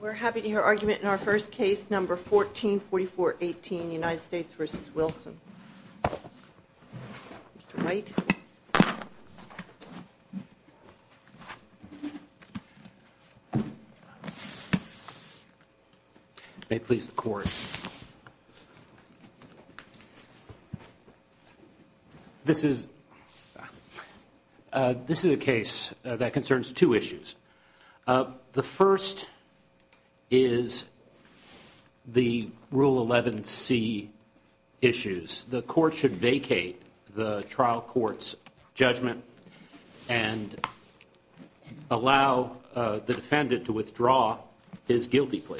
We're happy to hear argument in our first case, No. 144418, United States v. Wilson. Mr. Wright. This is a case that concerns two issues. The first is the Rule 11c issues. The court should vacate the trial court's judgment and allow the defendant to withdraw his guilty plea.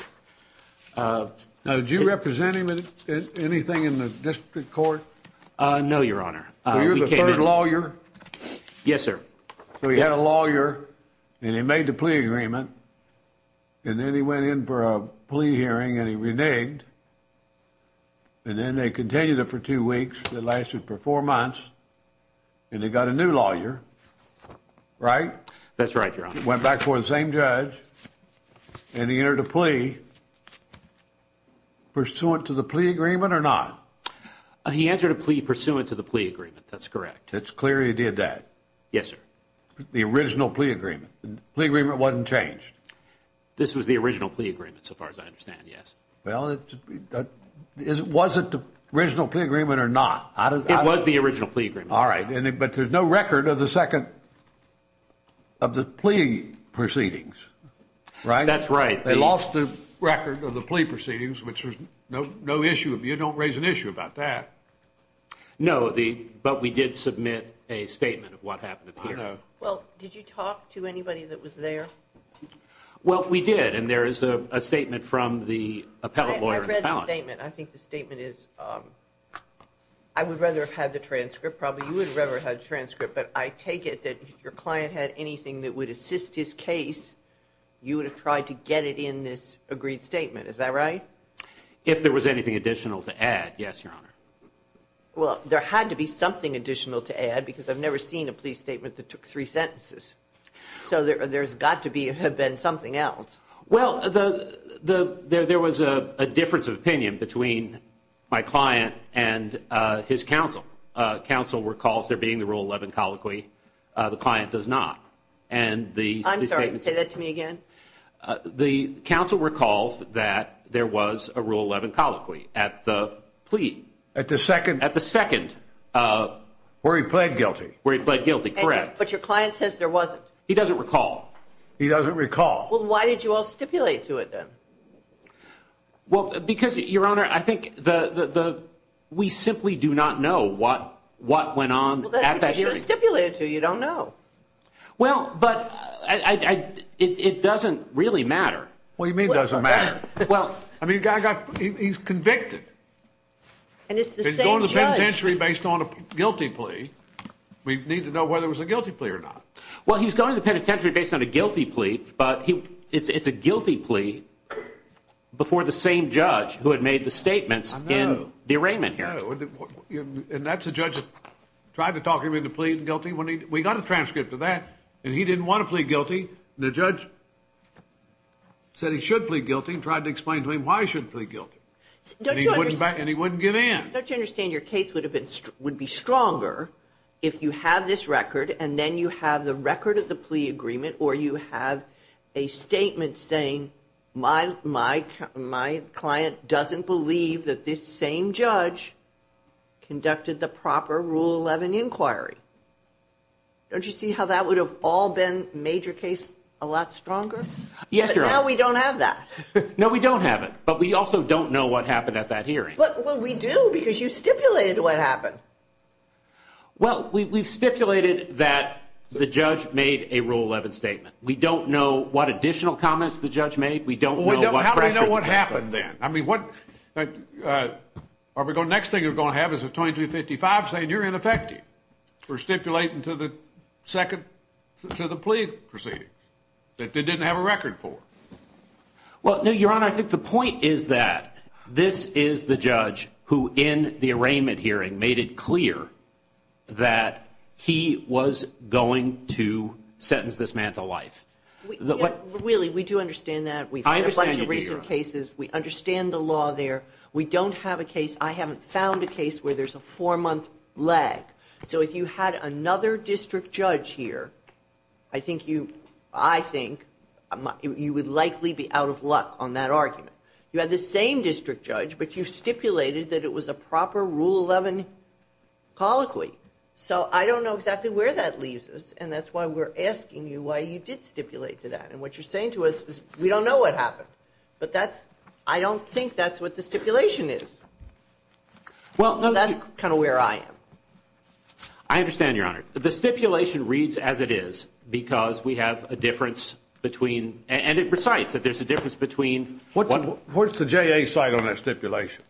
Do you represent him in anything in the district court? No, Your Honor. So you're the third lawyer? Yes, sir. So he had a lawyer, and he made the plea agreement, and then he went in for a plea hearing, and he reneged. And then they continued it for two weeks. It lasted for four months, and they got a new lawyer, right? That's right, Your Honor. He went back for the same judge, and he entered a plea pursuant to the plea agreement or not? He entered a plea pursuant to the plea agreement. That's correct. It's clear he did that? Yes, sir. The original plea agreement? The plea agreement wasn't changed? This was the original plea agreement, so far as I understand, yes. Well, was it the original plea agreement or not? It was the original plea agreement. All right, but there's no record of the second of the plea proceedings, right? That's right. They lost the record of the plea proceedings, which there's no issue of. You don't raise an issue about that. No, but we did submit a statement of what happened here. I know. Well, did you talk to anybody that was there? I read the statement. I think the statement is – I would rather have had the transcript. Probably you would have rather had the transcript, but I take it that if your client had anything that would assist his case, you would have tried to get it in this agreed statement. Is that right? If there was anything additional to add, yes, Your Honor. Well, there had to be something additional to add because I've never seen a plea statement that took three sentences. So there's got to have been something else. Well, there was a difference of opinion between my client and his counsel. Counsel recalls there being the Rule 11 colloquy. The client does not. I'm sorry. Say that to me again. The counsel recalls that there was a Rule 11 colloquy at the plea. At the second? At the second. Where he pled guilty. Where he pled guilty, correct. But your client says there wasn't. He doesn't recall. He doesn't recall. Well, why did you all stipulate to it then? Well, because, Your Honor, I think we simply do not know what went on at that hearing. Well, that's what you stipulated to. You don't know. Well, but it doesn't really matter. What do you mean it doesn't matter? I mean, he's convicted. And it's the same judge. He's going to the penitentiary based on a guilty plea. We need to know whether it was a guilty plea or not. Well, he's going to the penitentiary based on a guilty plea, but it's a guilty plea before the same judge who had made the statements in the arraignment hearing. And that's a judge that tried to talk him into pleading guilty? We got a transcript of that, and he didn't want to plead guilty. The judge said he should plead guilty and tried to explain to him why he should plead guilty. And he wouldn't get in. Don't you understand your case would be stronger if you have this record and then you have the record of the plea agreement or you have a statement saying my client doesn't believe that this same judge conducted the proper Rule 11 inquiry? Don't you see how that would have all been made your case a lot stronger? Yes, Your Honor. But now we don't have that. No, we don't have it, but we also don't know what happened at that hearing. Well, we do because you stipulated what happened. Well, we've stipulated that the judge made a Rule 11 statement. We don't know what additional comments the judge made. We don't know what happened then. I mean, the next thing you're going to have is a 2255 saying you're ineffective. We're stipulating to the plea proceeding that they didn't have a record for. Well, no, Your Honor, I think the point is that this is the judge who, in the arraignment hearing, made it clear that he was going to sentence this man to life. Really, we do understand that. We've had a bunch of recent cases. We understand the law there. We don't have a case. I haven't found a case where there's a four-month lag. So if you had another district judge here, I think you would likely be out of luck on that argument. You had the same district judge, but you stipulated that it was a proper Rule 11 colloquy. So I don't know exactly where that leaves us, and that's why we're asking you why you did stipulate to that. And what you're saying to us is we don't know what happened, but I don't think that's what the stipulation is. That's kind of where I am. I understand, Your Honor. The stipulation reads as it is because we have a difference between – and it recites that there's a difference between – Where's the JA side on that stipulation?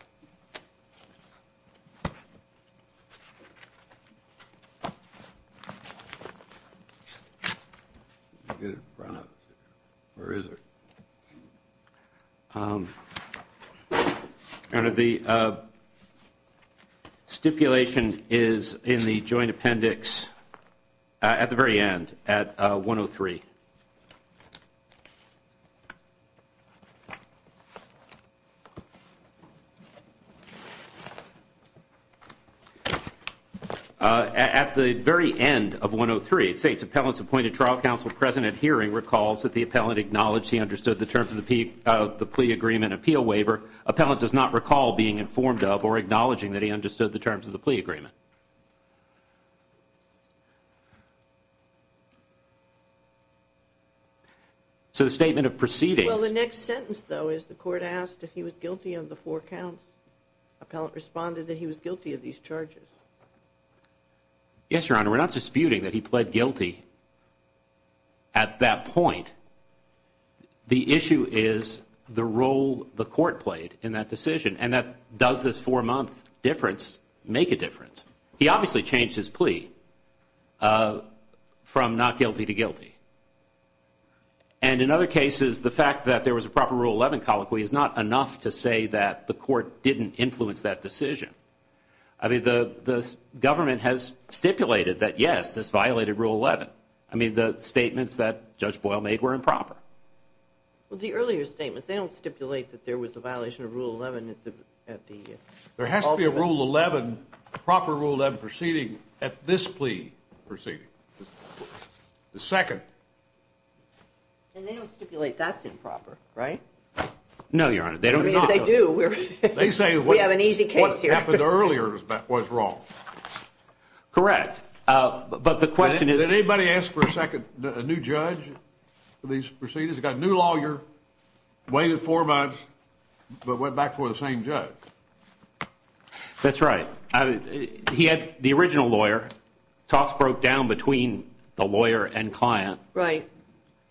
Where is it? Your Honor, the stipulation is in the Joint Appendix at the very end, at 103. At the very end of 103, it states, Appellant's appointed trial counsel present at hearing recalls that the appellant acknowledged he understood the terms of the plea agreement appeal waiver. However, appellant does not recall being informed of or acknowledging that he understood the terms of the plea agreement. So the statement of proceedings – Well, the next sentence, though, is the court asked if he was guilty of the four counts. Appellant responded that he was guilty of these charges. Yes, Your Honor. We're not disputing that he pled guilty at that point. The issue is the role the court played in that decision and that does this four-month difference make a difference? He obviously changed his plea from not guilty to guilty. And in other cases, the fact that there was a proper Rule 11 colloquy is not enough to say that the court didn't influence that decision. I mean, the government has stipulated that, yes, this violated Rule 11. But, I mean, the statements that Judge Boyle made were improper. Well, the earlier statements, they don't stipulate that there was a violation of Rule 11 at the – There has to be a Rule 11, proper Rule 11 proceeding at this plea proceeding. The second. And they don't stipulate that's improper, right? No, Your Honor. They do. They say we have an easy case here. What happened earlier was wrong. Correct. But the question is – Did anybody ask for a second – a new judge for these proceedings? They got a new lawyer, waited four months, but went back for the same judge. That's right. He had the original lawyer. Talks broke down between the lawyer and client. Right.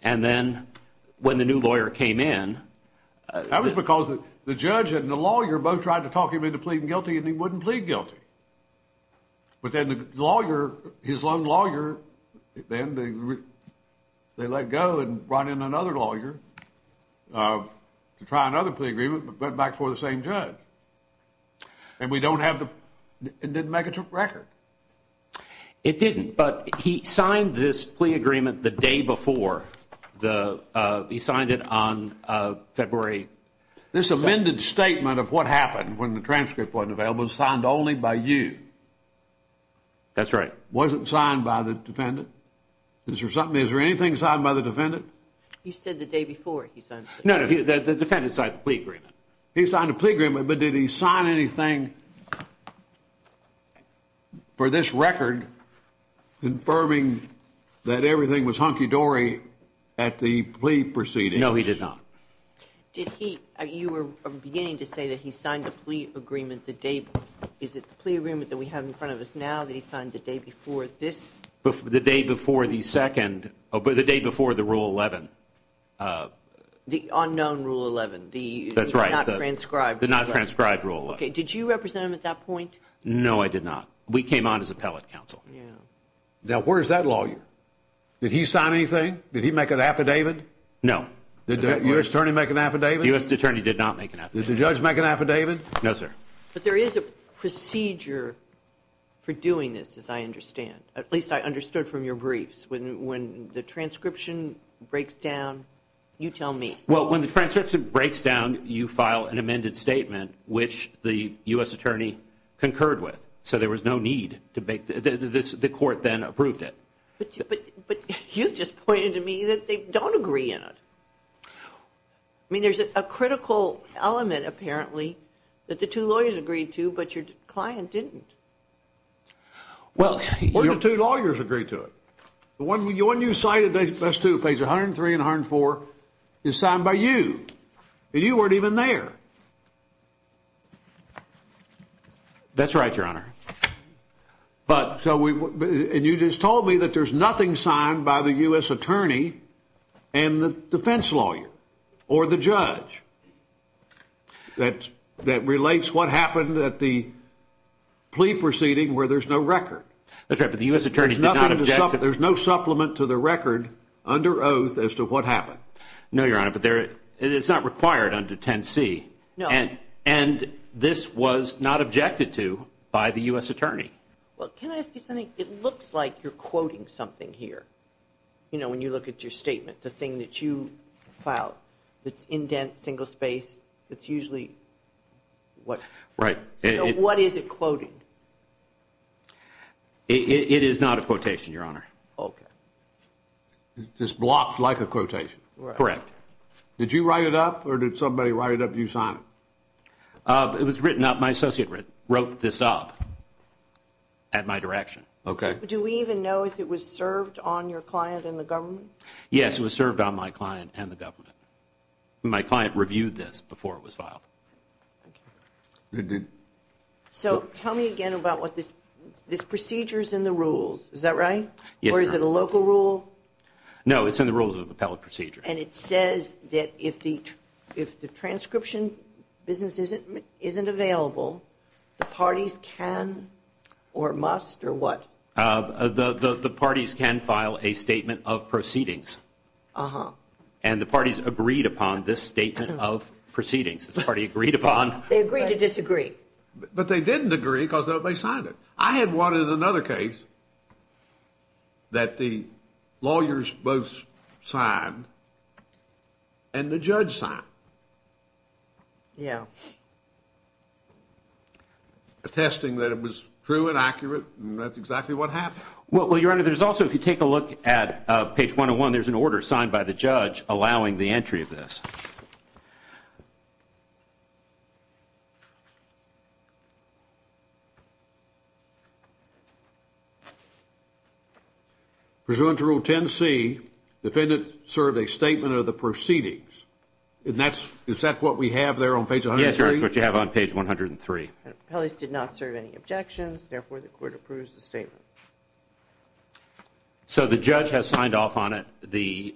And then when the new lawyer came in – That was because the judge and the lawyer both tried to talk him into pleading guilty and he wouldn't plead guilty. But then the lawyer, his own lawyer, then they let go and brought in another lawyer to try another plea agreement, but went back for the same judge. And we don't have the – it didn't make a record. It didn't, but he signed this plea agreement the day before. He signed it on February – This amended statement of what happened when the transcript wasn't available was signed only by you. That's right. It wasn't signed by the defendant? Is there something – is there anything signed by the defendant? You said the day before he signed the plea agreement. No, the defendant signed the plea agreement. He signed the plea agreement, but did he sign anything for this record confirming that everything was hunky-dory at the plea proceedings? No, he did not. Did he – you were beginning to say that he signed the plea agreement the day – is it the plea agreement that we have in front of us now that he signed the day before this? The day before the second – the day before the Rule 11. The unknown Rule 11. That's right. The not transcribed Rule 11. The not transcribed Rule 11. Okay, did you represent him at that point? No, I did not. We came on as appellate counsel. Yeah. Now, where is that lawyer? Did he sign anything? Did he make an affidavit? No. Did the U.S. attorney make an affidavit? The U.S. attorney did not make an affidavit. Did the judge make an affidavit? No, sir. But there is a procedure for doing this, as I understand. At least I understood from your briefs. When the transcription breaks down, you tell me. Well, when the transcription breaks down, you file an amended statement, which the U.S. attorney concurred with. So there was no need to make – the court then approved it. But you just pointed to me that they don't agree on it. I mean, there's a critical element, apparently, that the two lawyers agreed to, but your client didn't. Well, the two lawyers agreed to it. The one you cited, page 103 and 104, is signed by you, and you weren't even there. That's right, Your Honor. And you just told me that there's nothing signed by the U.S. attorney and the defense lawyer or the judge that relates what happened at the plea proceeding where there's no record. That's right, but the U.S. attorney did not object to it. There's no supplement to the record under oath as to what happened. No, Your Honor, but it's not required under 10C. No. And this was not objected to by the U.S. attorney. Well, can I ask you something? It looks like you're quoting something here, you know, when you look at your statement, the thing that you filed. It's indent, single space. It's usually what – Right. So what is it quoted? It is not a quotation, Your Honor. Okay. It's blocked like a quotation. Correct. Did you write it up or did somebody write it up and you signed it? It was written up. My associate wrote this up at my direction. Okay. Do we even know if it was served on your client and the government? Yes, it was served on my client and the government. My client reviewed this before it was filed. Okay. So tell me again about what this – this procedure's in the rules, is that right? Yes, Your Honor. Or is it a local rule? No, it's in the rules of the appellate procedure. And it says that if the transcription business isn't available, the parties can or must or what? The parties can file a statement of proceedings. Uh-huh. And the parties agreed upon this statement of proceedings. This party agreed upon – They agreed to disagree. But they didn't agree because they signed it. I had one in another case that the lawyers both signed and the judge signed. Yeah. Attesting that it was true and accurate and that's exactly what happened. Well, Your Honor, there's also – if you take a look at page 101, there's an order signed by the judge allowing the entry of this. Pursuant to Rule 10C, defendant served a statement of the proceedings. And that's – is that what we have there on page 103? Yes, Your Honor, it's what you have on page 103. The appellees did not serve any objections. Therefore, the court approves the statement. So the judge has signed off on it. The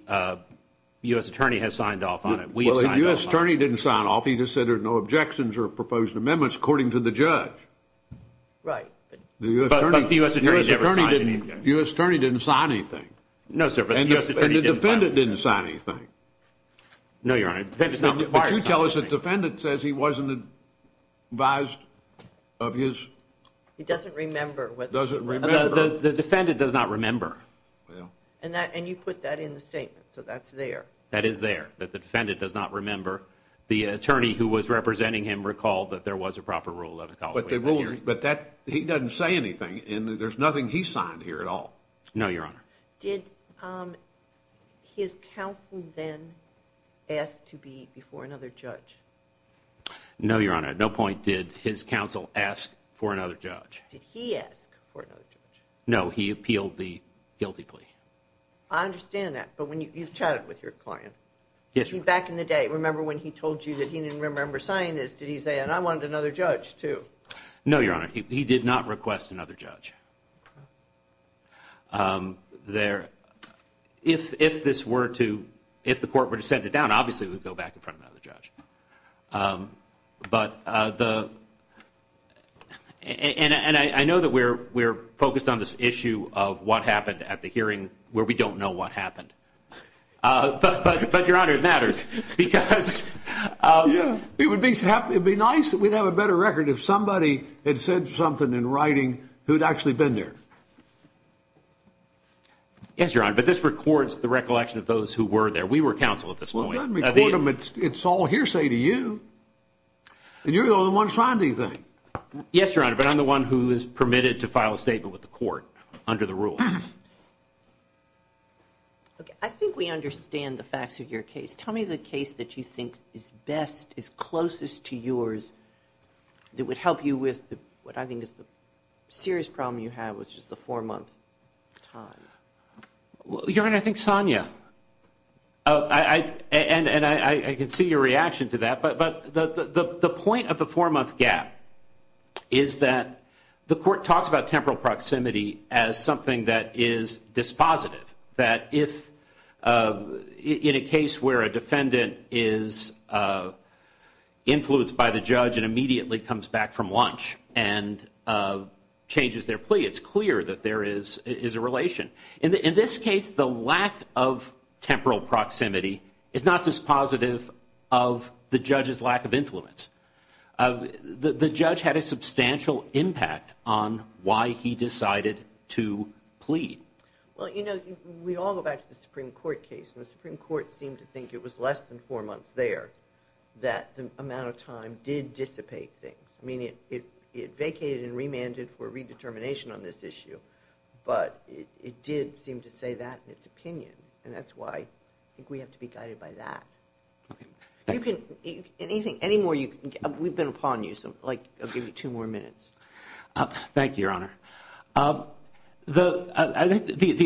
U.S. attorney has signed off on it. We have signed off on it. Well, the U.S. attorney didn't sign off. He just said there's no objections or proposed amendments according to the judge. Right. But the U.S. attorney never signed anything. The U.S. attorney didn't sign anything. No, sir, but the U.S. attorney didn't sign anything. And the defendant didn't sign anything. No, Your Honor. But you tell us the defendant says he wasn't advised of his – He doesn't remember. Doesn't remember. The defendant does not remember. And you put that in the statement, so that's there. That is there, that the defendant does not remember. The attorney who was representing him recalled that there was a proper rule of ecology. But he doesn't say anything, and there's nothing he signed here at all. No, Your Honor. Did his counsel then ask to be before another judge? No, Your Honor. At no point did his counsel ask for another judge. Did he ask for another judge? No, he appealed the guilty plea. I understand that. But you've chatted with your client. Yes, Your Honor. Back in the day, remember when he told you that he didn't remember signing this, did he say, and I wanted another judge too? No, Your Honor. He did not request another judge. If this were to – if the court were to send it down, obviously it would go back in front of another judge. But the – and I know that we're focused on this issue of what happened at the hearing where we don't know what happened. But, Your Honor, it matters because – Yes, Your Honor. But this records the recollection of those who were there. We were counsel at this point. Well, let me quote him. It's all hearsay to you. And you're the only one signed anything. Yes, Your Honor. But I'm the one who is permitted to file a statement with the court under the rules. Okay. I think we understand the facts of your case. Tell me the case that you think is best, is closest to yours, that would help you with what I think is the serious problem you have, which is the four-month time. Your Honor, I think Sonia. And I can see your reaction to that. But the point of the four-month gap is that the court talks about temporal proximity as something that is dispositive, that if in a case where a defendant is influenced by the judge and immediately comes back from lunch and changes their plea, it's clear that there is a relation. In this case, the lack of temporal proximity is not dispositive of the judge's lack of influence. The judge had a substantial impact on why he decided to plea. Well, you know, we all go back to the Supreme Court case, and the Supreme Court seemed to think it was less than four months there that the amount of time did dissipate things. I mean, it vacated and remanded for redetermination on this issue, but it did seem to say that in its opinion, and that's why I think we have to be guided by that. Okay. We've been upon you, so I'll give you two more minutes. Thank you, Your Honor. The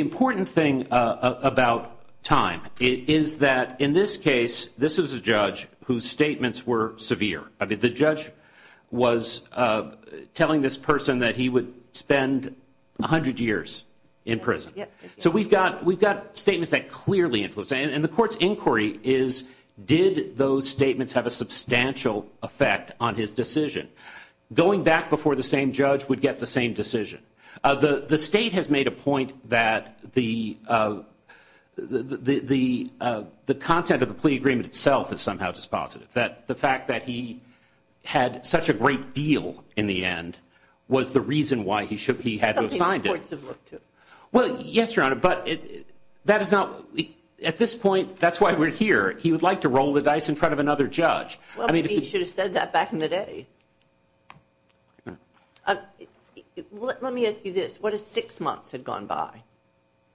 important thing about time is that in this case, this is a judge whose statements were severe. I mean, the judge was telling this person that he would spend 100 years in prison. So we've got statements that clearly influence, and the court's inquiry is did those statements have a substantial effect on his decision? Going back before the same judge would get the same decision. The state has made a point that the content of the plea agreement itself is somehow dispositive, that the fact that he had such a great deal in the end was the reason why he had to have signed it. Something the courts have looked to. Well, yes, Your Honor, but that is not at this point. That's why we're here. He would like to roll the dice in front of another judge. Well, maybe he should have said that back in the day. Let me ask you this. What if six months had gone by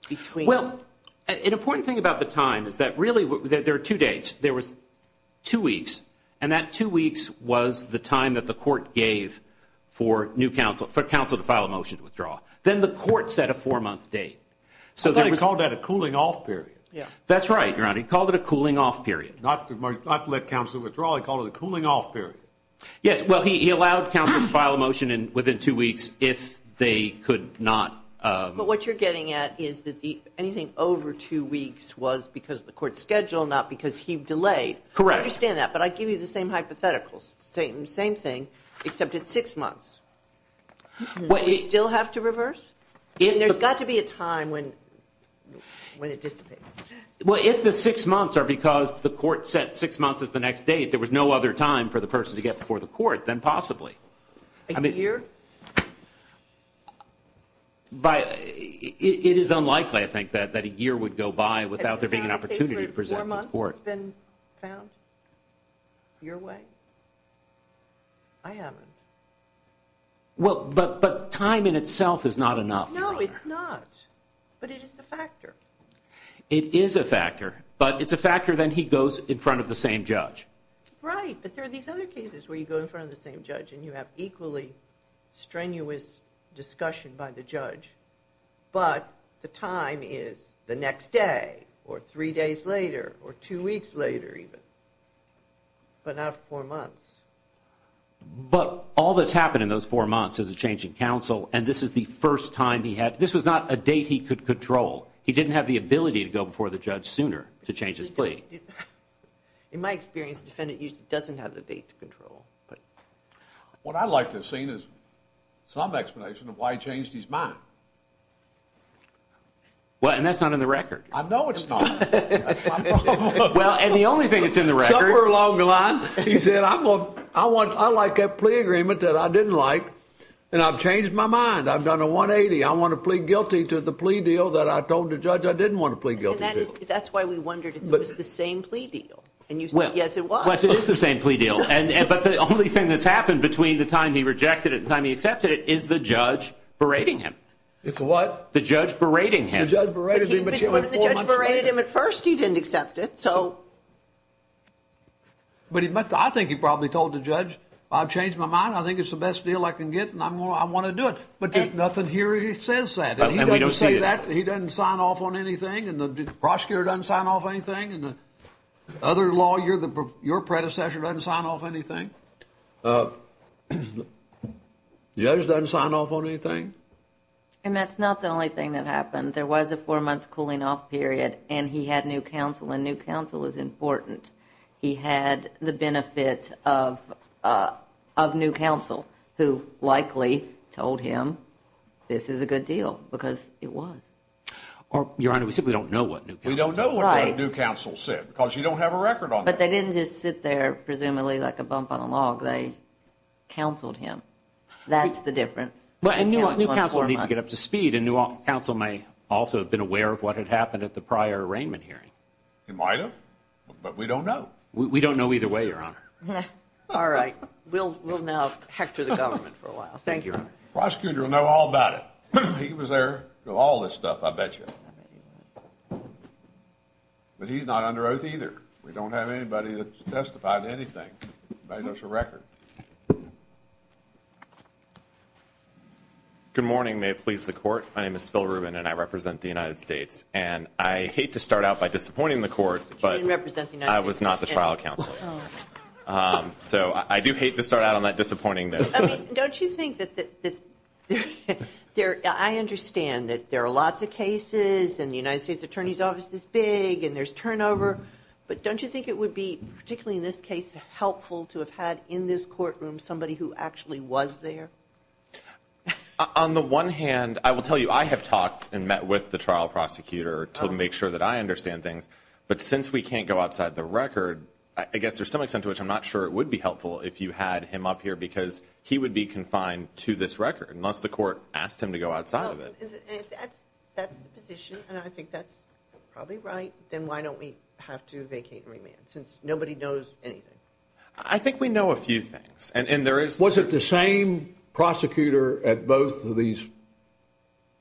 between? Well, an important thing about the time is that really there are two dates. There was two weeks, and that two weeks was the time that the court gave for counsel to file a motion to withdraw. Then the court set a four-month date. I thought he called that a cooling-off period. That's right, Your Honor. He called it a cooling-off period. Not to let counsel withdraw, he called it a cooling-off period. Yes. Well, he allowed counsel to file a motion within two weeks if they could not. But what you're getting at is that anything over two weeks was because of the court's schedule, not because he delayed. Correct. I understand that, but I give you the same hypotheticals, same thing, except it's six months. Do we still have to reverse? There's got to be a time when it dissipates. Well, if the six months are because the court set six months as the next date, there was no other time for the person to get before the court, then possibly. A year? It is unlikely, I think, that a year would go by without there being an opportunity to present to the court. Four months has been found your way? I haven't. Well, but time in itself is not enough, Your Honor. No, it's not, but it is a factor. It is a factor, but it's a factor that he goes in front of the same judge. Right, but there are these other cases where you go in front of the same judge and you have equally strenuous discussion by the judge, but the time is the next day or three days later or two weeks later even, but not four months. But all that's happened in those four months is a change in counsel, and this was not a date he could control. He didn't have the ability to go before the judge sooner to change his plea. In my experience, the defendant usually doesn't have the date to control. What I'd like to have seen is some explanation of why he changed his mind. Well, and that's not in the record. I know it's not. Well, and the only thing that's in the record. He said, I like that plea agreement that I didn't like, and I've changed my mind. I've done a 180. I want to plead guilty to the plea deal that I told the judge I didn't want to plead guilty to. That's why we wondered if it was the same plea deal. Yes, it was. It was the same plea deal, but the only thing that's happened between the time he rejected it and the time he accepted it is the judge berating him. It's what? The judge berating him. The judge berated him at first. He didn't accept it. But I think he probably told the judge, I've changed my mind. I think it's the best deal I can get, and I want to do it. But nothing here says that. And he doesn't say that? He doesn't sign off on anything? And the prosecutor doesn't sign off on anything? And the other lawyer, your predecessor, doesn't sign off on anything? The judge doesn't sign off on anything? And that's not the only thing that happened. There was a four-month cooling-off period, and he had new counsel, and new counsel is important. He had the benefit of new counsel, who likely told him this is a good deal, because it was. Your Honor, we simply don't know what new counsel said. We don't know what new counsel said, because you don't have a record on that. But they didn't just sit there, presumably, like a bump on a log. They counseled him. That's the difference. And new counsel needs to get up to speed, and new counsel may also have been aware of what had happened at the prior arraignment hearing. It might have, but we don't know. We don't know either way, Your Honor. All right. We'll now hector the government for a while. Thank you, Your Honor. The prosecutor will know all about it. He was there with all this stuff, I bet you. But he's not under oath either. We don't have anybody that's testified to anything. He made us a record. Good morning. May it please the Court. My name is Phil Rubin, and I represent the United States. And I hate to start out by disappointing the Court, but I was not the trial counsel. So I do hate to start out on that disappointing note. Don't you think that there are lots of cases, and the United States Attorney's Office is big, and there's turnover, but don't you think it would be, particularly in this case, helpful to have had in this courtroom somebody who actually was there? On the one hand, I will tell you, I have talked and met with the trial prosecutor to make sure that I understand things. But since we can't go outside the record, I guess there's some extent to which I'm not sure it would be helpful if you had him up here because he would be confined to this record, unless the Court asked him to go outside of it. If that's the position, and I think that's probably right, then why don't we have to vacate and remand since nobody knows anything? I think we know a few things. Was it the same prosecutor at both of these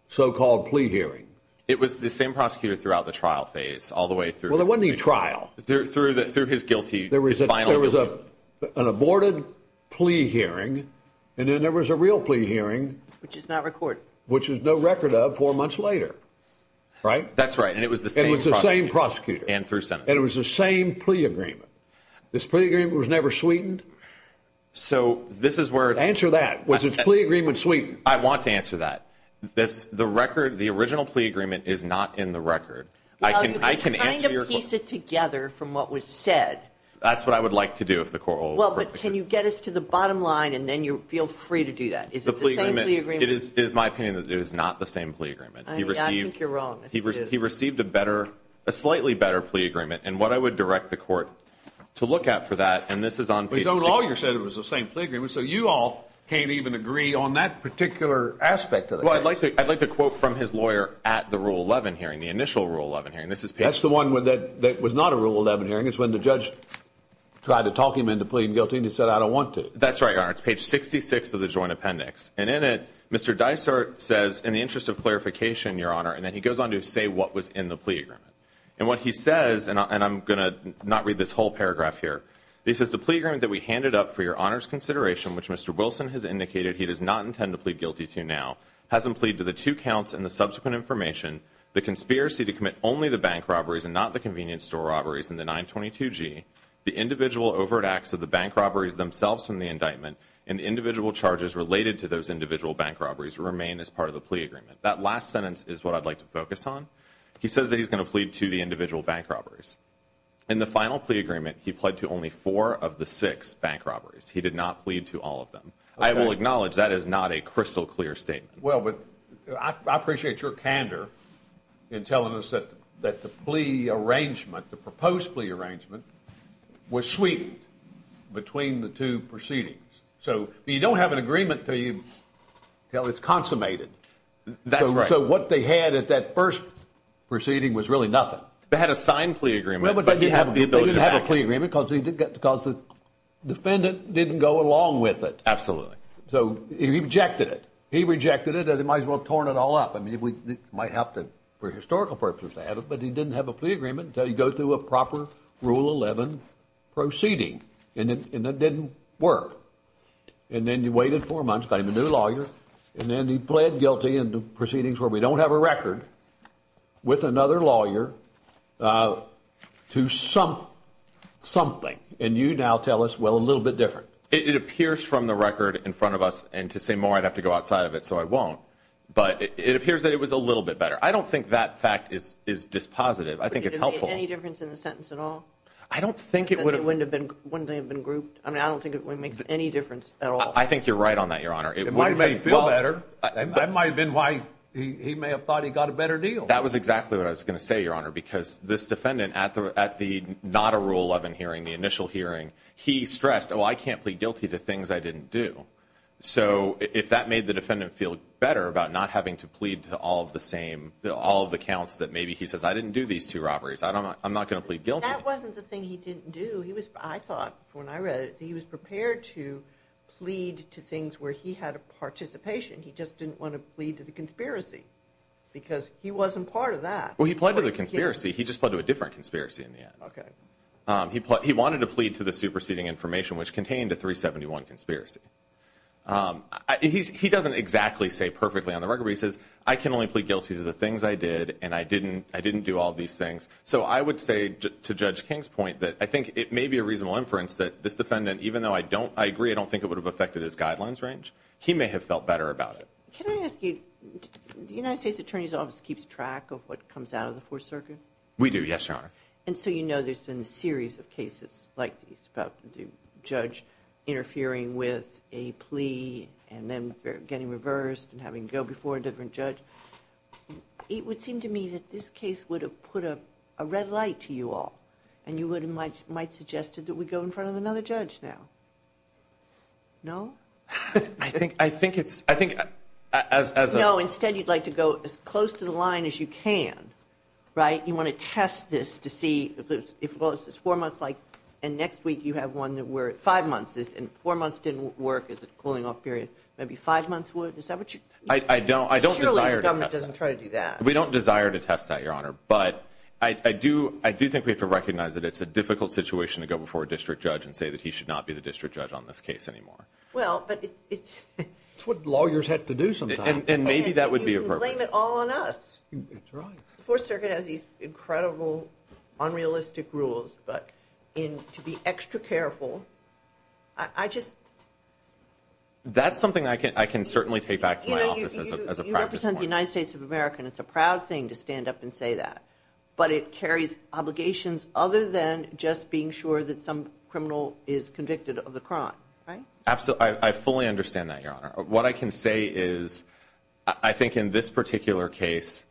so-called plea hearings? It was the same prosecutor throughout the trial phase, all the way through. Well, there wasn't any trial. Through his guilty, his final guilty. There was an aborted plea hearing, and then there was a real plea hearing. Which is not recorded. Which is no record of four months later, right? That's right, and it was the same prosecutor. It was the same prosecutor. And through Senate. And it was the same plea agreement. This plea agreement was never sweetened? Answer that. Was its plea agreement sweetened? I want to answer that. The original plea agreement is not in the record. Well, you can kind of piece it together from what was said. That's what I would like to do if the Court will approve it. Well, but can you get us to the bottom line, and then you feel free to do that? Is it the same plea agreement? It is my opinion that it is not the same plea agreement. I think you're wrong. He received a slightly better plea agreement, and what I would direct the Court to look at for that, and this is on page 66. But his own lawyer said it was the same plea agreement, so you all can't even agree on that particular aspect of it. Well, I'd like to quote from his lawyer at the Rule 11 hearing, the initial Rule 11 hearing. That's the one that was not a Rule 11 hearing. It's when the judge tried to talk him into pleading guilty, and he said, I don't want to. That's right, Your Honor. It's page 66 of the joint appendix. And in it, Mr. Dysart says, in the interest of clarification, Your Honor, and then he goes on to say what was in the plea agreement. And what he says, and I'm going to not read this whole paragraph here, he says, The plea agreement that we handed up for Your Honor's consideration, which Mr. Wilson has indicated he does not intend to plead guilty to now, has him plead to the two counts and the subsequent information, the conspiracy to commit only the bank robberies and not the convenience store robberies in the 922G, the individual overt acts of the bank robberies themselves in the indictment, and the individual charges related to those individual bank robberies remain as part of the plea agreement. That last sentence is what I'd like to focus on. He says that he's going to plead to the individual bank robberies. In the final plea agreement, he pled to only four of the six bank robberies. He did not plead to all of them. I will acknowledge that is not a crystal clear statement. Well, but I appreciate your candor in telling us that the plea arrangement, the proposed plea arrangement, was sweetened between the two proceedings. So you don't have an agreement until it's consummated. That's right. So what they had at that first proceeding was really nothing. They had a signed plea agreement, but he has the ability to back it. They didn't have a plea agreement because the defendant didn't go along with it. Absolutely. So he rejected it. He rejected it as he might as well have torn it all up. I mean, it might help for historical purposes to have it, but he didn't have a plea agreement until you go through a proper Rule 11 proceeding, and it didn't work. And then you waited four months, got him a new lawyer, and then he pled guilty in the proceedings where we don't have a record, with another lawyer, to something. And you now tell us, well, a little bit different. It appears from the record in front of us, and to say more, I'd have to go outside of it, so I won't. But it appears that it was a little bit better. I don't think that fact is dispositive. I think it's helpful. Would it have made any difference in the sentence at all? I don't think it would have. Wouldn't they have been grouped? I mean, I don't think it would have made any difference at all. I think you're right on that, Your Honor. It might have made him feel better. That might have been why he may have thought he got a better deal. That was exactly what I was going to say, Your Honor, because this defendant at the not a Rule 11 hearing, the initial hearing, he stressed, oh, I can't plead guilty to things I didn't do. So if that made the defendant feel better about not having to plead to all of the counts that maybe he says, I didn't do these two robberies, I'm not going to plead guilty. That wasn't the thing he didn't do. Well, he was, I thought when I read it, he was prepared to plead to things where he had a participation. He just didn't want to plead to the conspiracy because he wasn't part of that. Well, he pled to the conspiracy. He just pled to a different conspiracy in the end. Okay. He wanted to plead to the superseding information, which contained a 371 conspiracy. He doesn't exactly say perfectly on the record where he says, I can only plead guilty to the things I did and I didn't do all these things. So I would say to judge King's point that I think it may be a reasonable inference that this defendant, even though I don't, I agree. I don't think it would have affected his guidelines range. He may have felt better about it. Can I ask you, the United States attorney's office keeps track of what comes out of the fourth circuit. We do. Yes, your Honor. And so, you know, there's been a series of cases like these about the judge interfering with a plea and then getting reversed and having to go before a different judge. It would seem to me that this case would have put a red light to you all. And you would have might, might suggested that we go in front of another judge now. No, I think, I think it's, I think as, as a, instead you'd like to go as close to the line as you can, right? You want to test this to see if it was four months, like and next week you have one that were five months is in four months. Didn't work. Is it cooling off period? Maybe five months. I don't, I don't desire to try to do that. We don't desire to test that your Honor. But I do, I do think we have to recognize that it's a difficult situation to go before a district judge and say that he should not be the district judge on this case anymore. Well, but it's, it's what lawyers have to do. And maybe that would be a blame it all on us. The fourth circuit has these incredible unrealistic rules, but in to be extra careful, I just, that's something I can, I can certainly take back to my office as a private United States of America. And it's a proud thing to stand up and say that, but it carries obligations other than just being sure that some criminal is convicted of the crime. Right? Absolutely. I fully understand that your Honor. What I can say is I think in this particular case,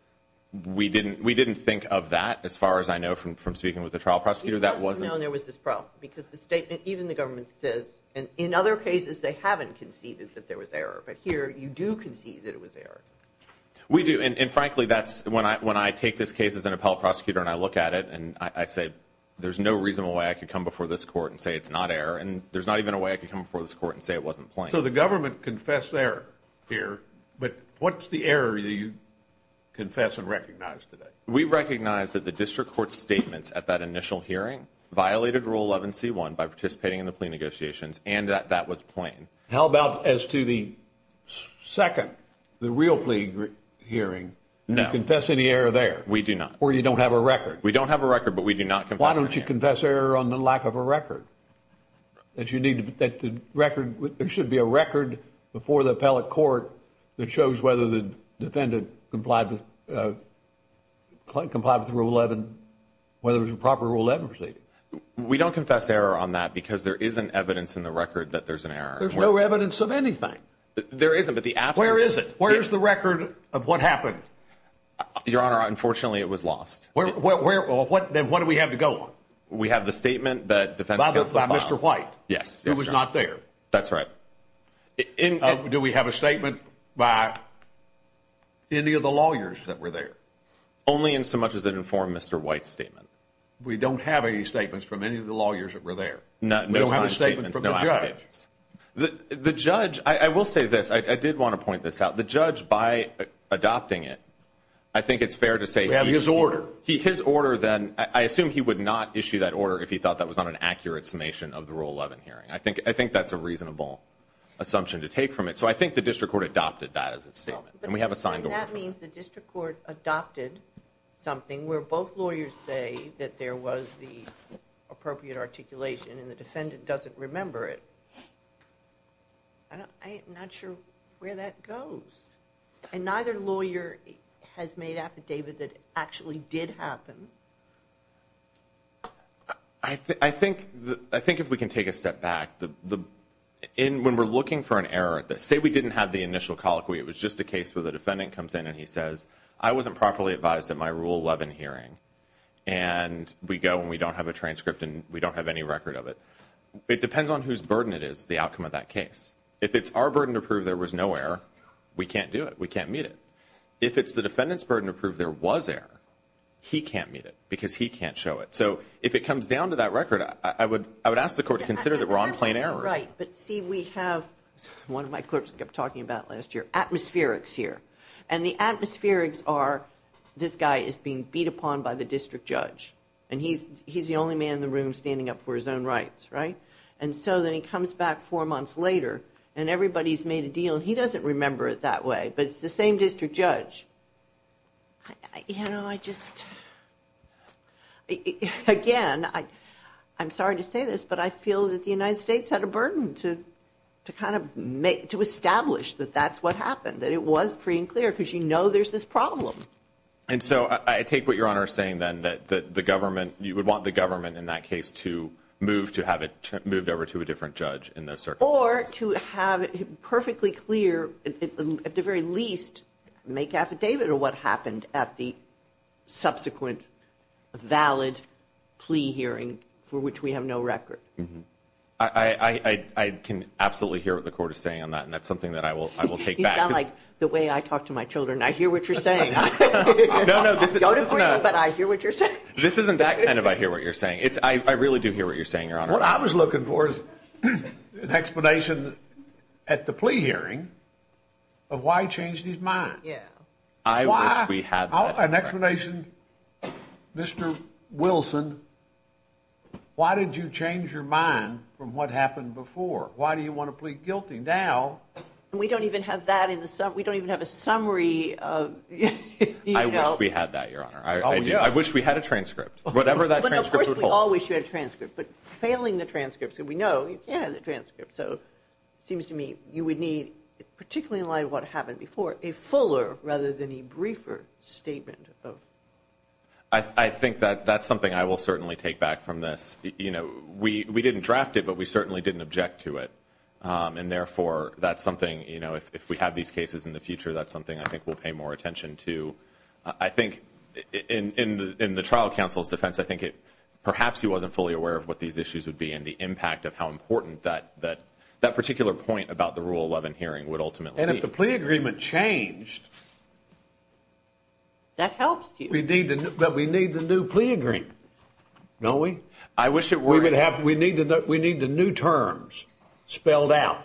we didn't, we didn't think of that as far as I know from, from speaking with the trial prosecutor, that was known there was this pro because the statement, even the government says, and in other cases they haven't conceded that there was error, but here you do concede that it was there. We do. And frankly, that's when I, when I take this case as an appellate prosecutor and I look at it and I say, there's no reasonable way I could come before this court and say it's not error. And there's not even a way I could come before this court and say it wasn't plain. So the government confessed there here, but what's the area that you confess and recognize today? We recognize that the district court statements at that initial hearing violated rule 11 C one by participating in the plea negotiations. And that, that was plain. How about as to the second, the real plea hearing confess any error there? We do not, or you don't have a record. We don't have a record, but we do not. Why don't you confess error on the lack of a record that you need to, that the record there should be a record before the appellate court that shows whether the defendant complied with, uh, Clint complied with rule 11, whether it was a proper rule. We don't confess error on that because there isn't evidence in the record that there's an error. There's no evidence of anything. There isn't, but the app, where is it? Where's the record of what happened? Your Honor? Unfortunately it was lost. Where, where, where, what, then what do we have to go on? We have the statement that defense counsel, Mr. White. Yes. It was not there. That's right. In, do we have a statement by any of the lawyers that were there only in so much as an informed Mr. White statement? We don't have any statements from any of the lawyers that were there. No, no, no. The judge, I will say this. I did want to point this out. The judge by adopting it. I think it's fair to say we have his order. He, his order. Then I assume he would not issue that order if he thought that was not an accurate summation of the rule 11 hearing. I think, I think that's a reasonable assumption to take from it. So I think the district court adopted that as its statement. And we have a signed order. That means the district court adopted something where both lawyers say that there was the appropriate articulation and the defendant doesn't remember it. I don't, I am not sure where that goes. And neither lawyer has made affidavit that actually did happen. I think, I think, I think if we can take a step back, the, in, when we're looking for an error that say we didn't have the initial colloquy, it was just a case where the defendant comes in and he says, I wasn't properly advised that my rule 11 hearing. And we go and we don't have a transcript and we don't have any record of it. It depends on whose burden it is. The outcome of that case. If it's our burden to prove there was no air, we can't do it. We can't meet it. If it's the defendant's burden to prove there was air, he can't meet it because he can't show it. So if it comes down to that record, I would, I would ask the court to consider that we're on plain error. Right. But see, we have one of my clerks kept talking about last year, atmospherics here. And the atmospherics are this guy is being beat upon by the district judge. And he's, he's the only man in the room standing up for his own rights. Right. And so then he comes back four months later and everybody's made a deal and he doesn't remember it that way, but it's the same district judge. I, you know, I just, again, I, I'm sorry to say this, but I feel that the United States had a burden to, to kind of make, to establish that that's what happened, that it was free and clear. Cause you know, there's this problem. And so I take what you're on are saying then that, that the government, you would want the government in that case to move, to have it moved over to a different judge in those circumstances. Or to have it perfectly clear at the very least make affidavit or what you're saying, that there is a subsequent valid plea hearing for which we have no record. I can absolutely hear what the court is saying on that. And that's something that I will, I will take back the way I talk to my children. I hear what you're saying. No, no, this is not, but I hear what you're saying. This isn't that kind of, I hear what you're saying. It's I really do hear what you're saying. Your honor. What I was looking for is an explanation at the plea hearing of why change these minds. Yeah. I wish we had an explanation. Mr. Wilson. Why did you change your mind from what happened before? Why do you want to plead guilty now? And we don't even have that in the, we don't even have a summary of, you know, we had that your honor. I do. I wish we had a transcript, whatever that transcript would hold. We all wish you had a transcript, but failing the transcripts and we know you can't have the transcript. So it seems to me you would need particularly in light of what happened before a fuller rather than a briefer statement of, I think that that's something I will certainly take back from this. You know, we, we didn't draft it, but we certainly didn't object to it. And therefore that's something, you know, if we have these cases in the future, that's something I think we'll pay more attention to. I think in the, in the trial counsel's defense, I think it perhaps he wasn't fully aware of what these issues would be and the impact of how important that, that that particular point about the rule 11 hearing would ultimately, and if the plea agreement changed, that helps you. We need to, but we need the new plea agreement. No, we, I wish it were, we would have, we need to, we need the new terms spelled out.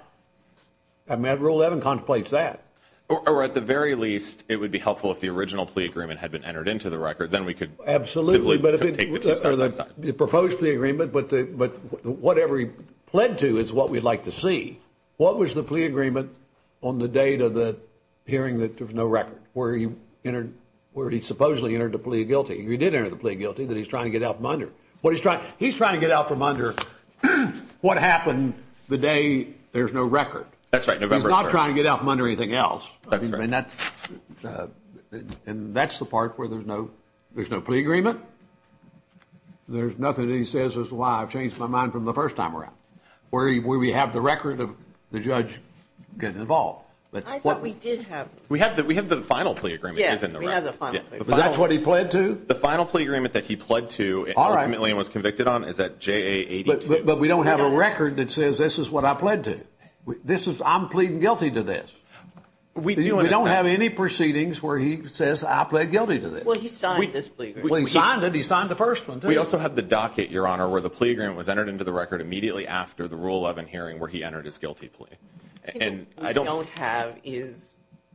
I'm at rule 11 contemplates that. Or at the very least, it would be helpful if the original plea agreement had been entered into the record, then we could absolutely, but if it was proposed to the agreement, but the, but whatever he pled to is what we'd like to see. What was the plea agreement on the date of the hearing? That there was no record where he entered, where he supposedly entered the plea guilty. He did enter the plea guilty that he's trying to get out from under what he's trying. He's trying to get out from under what happened the day. There's no record. That's right. November is not trying to get out from under anything else. And that's, and that's the part where there's no, there's no plea agreement. There's nothing that he says is why I've changed my mind from the first time around. Where, where we have the record of the judge getting involved, but what we did have, we have the, we have the final plea agreement. Isn't that what he pled to? The final plea agreement that he pled to ultimately was convicted on. Is that J a, but we don't have a record that says, this is what I pled to. This is I'm pleading guilty to this. We don't have any proceedings where he says, I pled guilty to this. Well, he signed it. He signed the first one. We also have the docket your honor, where the plea agreement was entered into the record immediately after the rule 11 hearing, where he entered his guilty plea. And I don't have is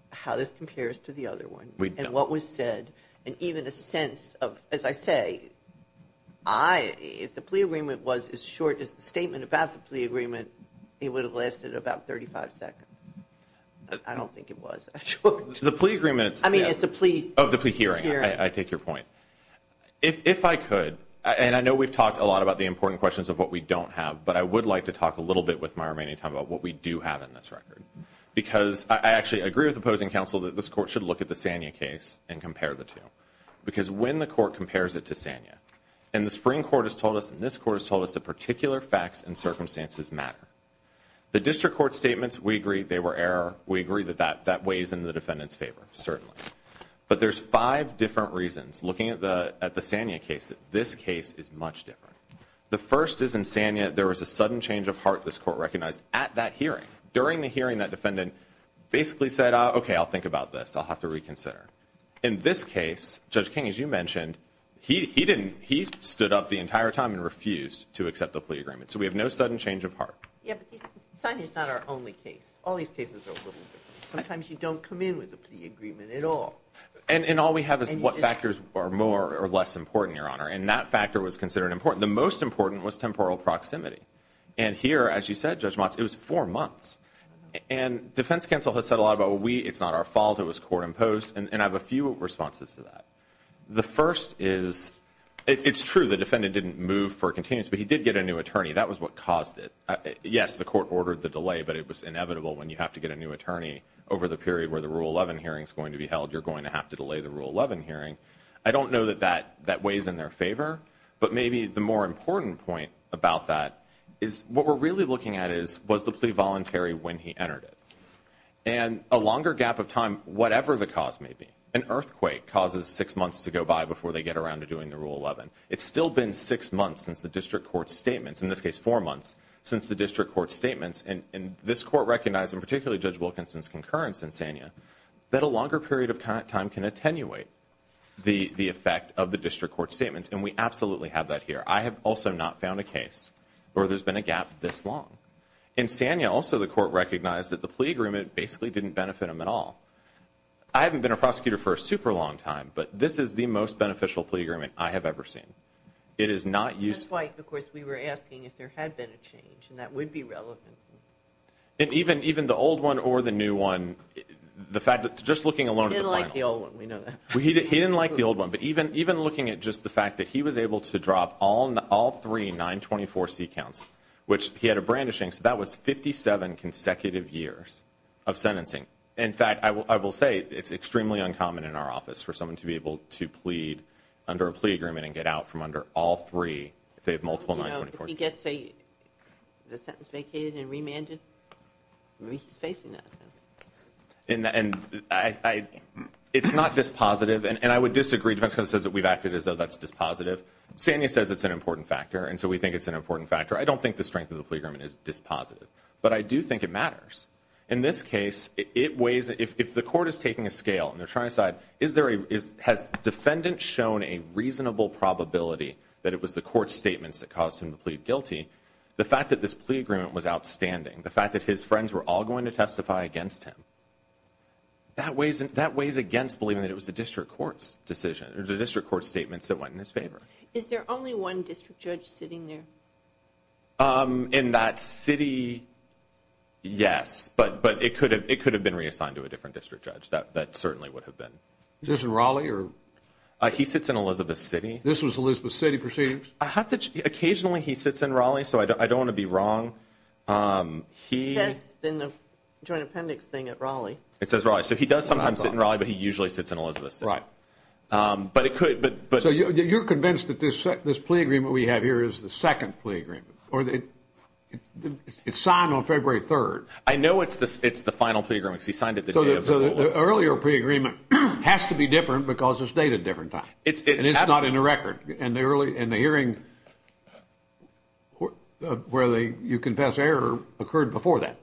how this compares to the other one. And what was said, and even a sense of, as I say, I, if the plea agreement was as short as the statement about the plea agreement, it would have lasted about 35 seconds. I don't think it was the plea agreements. I mean, it's a plea of the plea hearing. I take your point. If I could, and I know we've talked a lot about the important questions of what we don't have, but I would like to talk a little bit with my remaining time about what we do have in this record, because I actually agree with opposing counsel that this court should look at the Sanya case and compare the two, because when the court compares it to Sanya and the spring court has told us, and this court has told us that particular facts and circumstances matter, the district court statements, we agree they were error. We agree that that, that weighs in the defendant's favor, certainly, but there's five different reasons looking at the, at the Sanya case that this case is much different. The first is in Sanya. There was a sudden change of heart. This court recognized at that hearing during the hearing that defendant basically said, okay, I'll think about this. I'll have to reconsider. In this case, judge King, as you mentioned, he, he didn't, he stood up the entire time and refused to accept the plea agreement. So we have no sudden change of heart. Yeah, but Sanya is not our only case. All these cases are a little bit. Sometimes you don't come in with a plea agreement at all. And, and all we have is what factors are more or less important, your honor. And that factor was considered important. The most important was temporal proximity. And here, as you said, judge Motz, it was four months and defense counsel has said a lot about what we, it's not our fault. It was court imposed. And I have a few responses to that. The first is it's true. The defendant didn't move for continuous, but he did get a new attorney. That was what caused it. Yes, the court ordered the delay, but it was inevitable when you have to get a new attorney over the period where the rule 11 hearing is going to be held. You're going to have to delay the rule 11 hearing. I don't know that that that weighs in their favor, but maybe the more important point about that is what we're really looking at is, was the plea voluntary when he entered it and a longer gap of time, whatever the cause may be. An earthquake causes six months to go by before they get around to doing the rule 11. It's still been six months since the district court statements in this case, four months since the district court statements. And this court recognized, and particularly judge Wilkinson's concurrence and Sanya that a longer period of time can attenuate the, the effect of the district court statements. And we absolutely have that here. I have also not found a case where there's been a gap this long in Sanya. Also the court recognized that the plea agreement basically didn't benefit him at all. I haven't been a prosecutor for a super long time, but this is the most beneficial plea agreement I have ever seen. It is not used. Of course we were asking if there had been a change and that would be relevant. And even, even the old one or the new one, the fact that just looking alone, we know that he didn't like the old one, but even, even looking at just the fact that he was able to drop all, all three, nine 24 seat counts, which he had a brandishing. So that was 57 consecutive years of sentencing. In fact, I will, I will say it's extremely uncommon in our office for someone to be able to plead under a plea agreement and get out from under all three. If they have multiple, he gets a, the sentence vacated and remanded. In the end, I, I, it's not this positive. And I would disagree defense because it says that we've acted as though that's dispositive. Sandy says it's an important factor. And so we think it's an important factor. I don't think the strength of the playground is dispositive, but I do think it matters in this case. It weighs. If, if the court is taking a scale and they're trying to decide, is there a, is has defendant shown a reasonable probability that it was the court statements that caused him to plead guilty. The fact that this plea agreement was outstanding. The fact that his friends were all going to testify against him. That weighs in that weighs against believing that it was the district court's decision or the district court statements that went in his favor. Is there only one district judge sitting there? In that city? Yes, but, but it could have, it could have been reassigned to a different district judge that, that certainly would have been just in Raleigh or he sits in Elizabeth city. This was Elizabeth city proceedings. I have to occasionally he sits in Raleigh. So I don't, I don't want to be wrong. He has been the joint appendix thing at Raleigh. It says Raleigh. So he does sometimes sit in Raleigh, but he usually sits in Elizabeth. Right. But it could, but you're convinced that this, this plea agreement we have here is the second plea agreement or that it's signed on February 3rd. I know it's the, it's the final playground because he signed it. The earlier pre-agreement has to be different because it's dated different time. It's not in the record and the early and the hearing where they, you confess error occurred before that.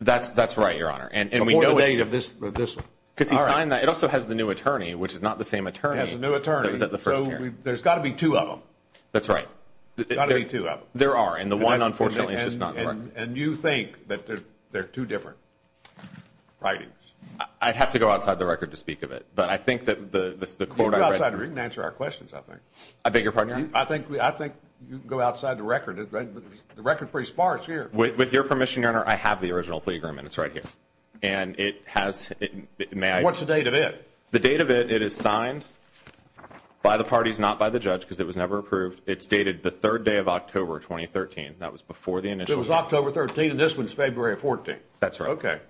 That's that's right. Your honor. And we know the date of this, this because he signed that. It also has the new attorney, which is not the same attorney as the new attorney. That was at the first year. There's got to be two of them. That's right. There are. And the one, unfortunately, it's just not. And you think that they're, they're two different writings. I'd have to go outside the record to speak of it, but I think that the, the, the court, I read, we can answer our questions. I think I beg your pardon. I think we, I think you can go outside the record. The record pre sparks here with your permission. Your honor. I have the original plea agreement. It's right here and it has, may I, what's the date of it? The date of it. It is signed by the parties, not by the judge because it was never approved. It's dated the third day of October, 2013. That was before the initial was October 13. And this one's February 14th. That's right. Okay.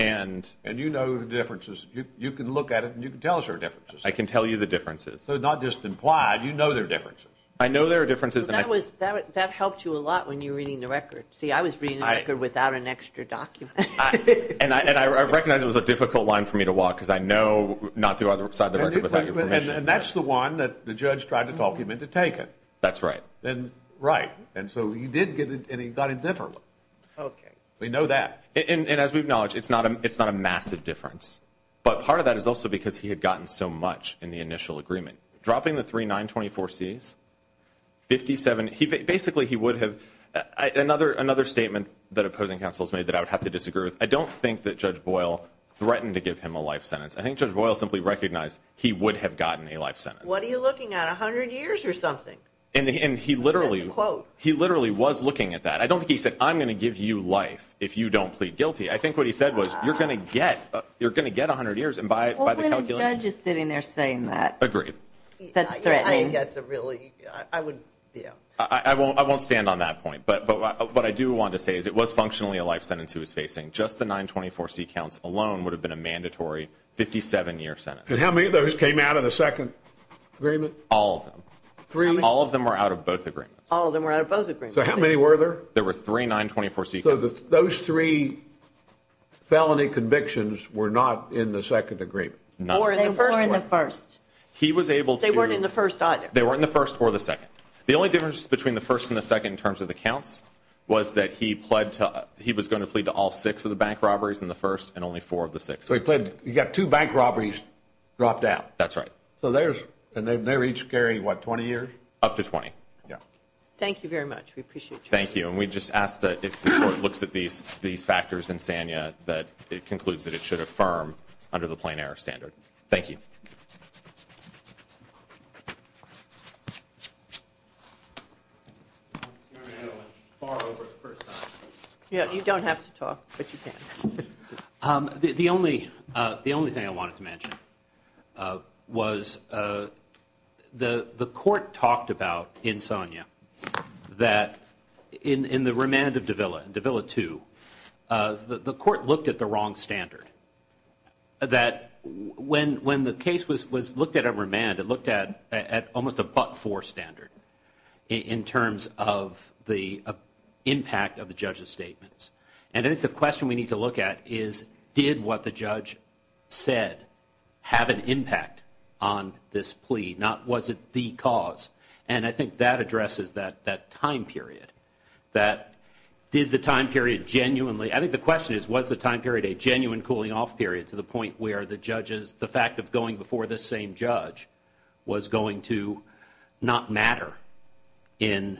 And, and you know, the differences, you can look at it and you can tell us our differences. I can tell you the differences. So not just implied, you know, I know there are differences. I know there are differences. That was, that helped you a lot when you were reading the record. See, I was reading the record without an extra document. And I, and I recognize it was a difficult line for me to walk because I know not to other side of the record without your permission. And that's the one that the judge tried to talk him into taking. That's right. And right. And so he did get it and he got a different one. Okay. We know that. And, and as we've acknowledged, it's not a, it's not a massive difference. But part of that is also because he had gotten so much in the initial agreement. Dropping the three, nine, 24 C's, 57. He basically, he would have another, another statement that opposing councils made that I would have to disagree with. I don't think that judge Boyle threatened to give him a life sentence. I think judge Boyle simply recognized he would have gotten a life sentence. What are you looking at? A hundred years or something? And he, and he literally quote, he literally was looking at that. I don't think he said, I'm going to give you life if you don't plead guilty. I think what he said was you're going to get, you're going to get a hundred years. And by, by the way, the judge is sitting there saying that. Agreed. That's threatening. That's a really, I would, yeah, I won't, I won't stand on that point. But, but what I do want to say is it was functionally a life sentence he was facing. Just the nine, 24 C counts alone would have been a mandatory 57 year sentence. And how many of those came out of the second agreement? All of them, three, all of them were out of both agreements. All of them were out of both agreements. So how many were there? There were three, nine, 24 C. So those three felony convictions were not in the second agreement. Four in the first one. Four in the first. He was able to. They weren't in the first either. They weren't in the first or the second. The only difference between the first and the second in terms of the counts was that he pled to, he was going to plead to all six of the bank robberies in the first and only four of the six. So he pled, you got two bank robberies dropped out. That's right. So there's, and they, they each carry what, 20 years? Up to 20. Yeah. Thank you very much. We appreciate you. Thank you. And we just ask that if the court looks at these, these factors in Sanya, that it concludes that it should affirm under the plain air standard. Thank you. Yeah, you don't have to talk, but you can. Um, the, the only, uh, the only thing I wanted to mention, uh, was, uh, the, the court talked about in Sonia that in, in the remand of Davila, Davila two, uh, the, the court looked at the wrong standard that when, when the case was, was looked at a remand, it looked at, at almost a buck four standard in, in terms of the, uh, impact of the judge's statements. And I think the question we need to look at is, did what the judge said have an impact on this plea? Not, was it the cause? And I think that addresses that, that time period that did the time period genuinely. I think the question is, was the time period a genuine cooling off period to the point where the judges, the fact of going before the same judge was going to not matter in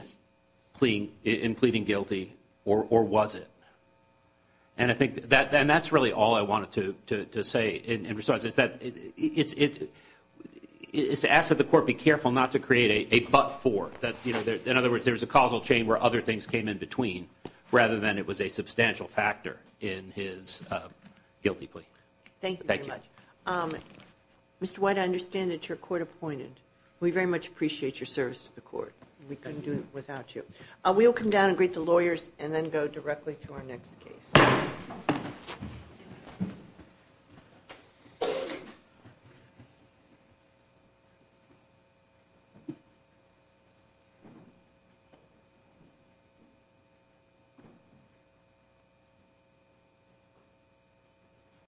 clean in pleading guilty or, or was it? And I think that, and that's really all I wanted to, to, to say in response is that it's, it's, it's asked that the court be careful not to create a, a buck four that, you know, in other words, there was a causal chain where other things came in between rather than it was a substantial factor in his guilty plea. Thank you very much. Um, Mr. White, I understand that your court appointed, we very much appreciate your service to the court. We couldn't do it without you. Uh, we'll come down and greet the lawyers and then go directly to our next case. Thank you.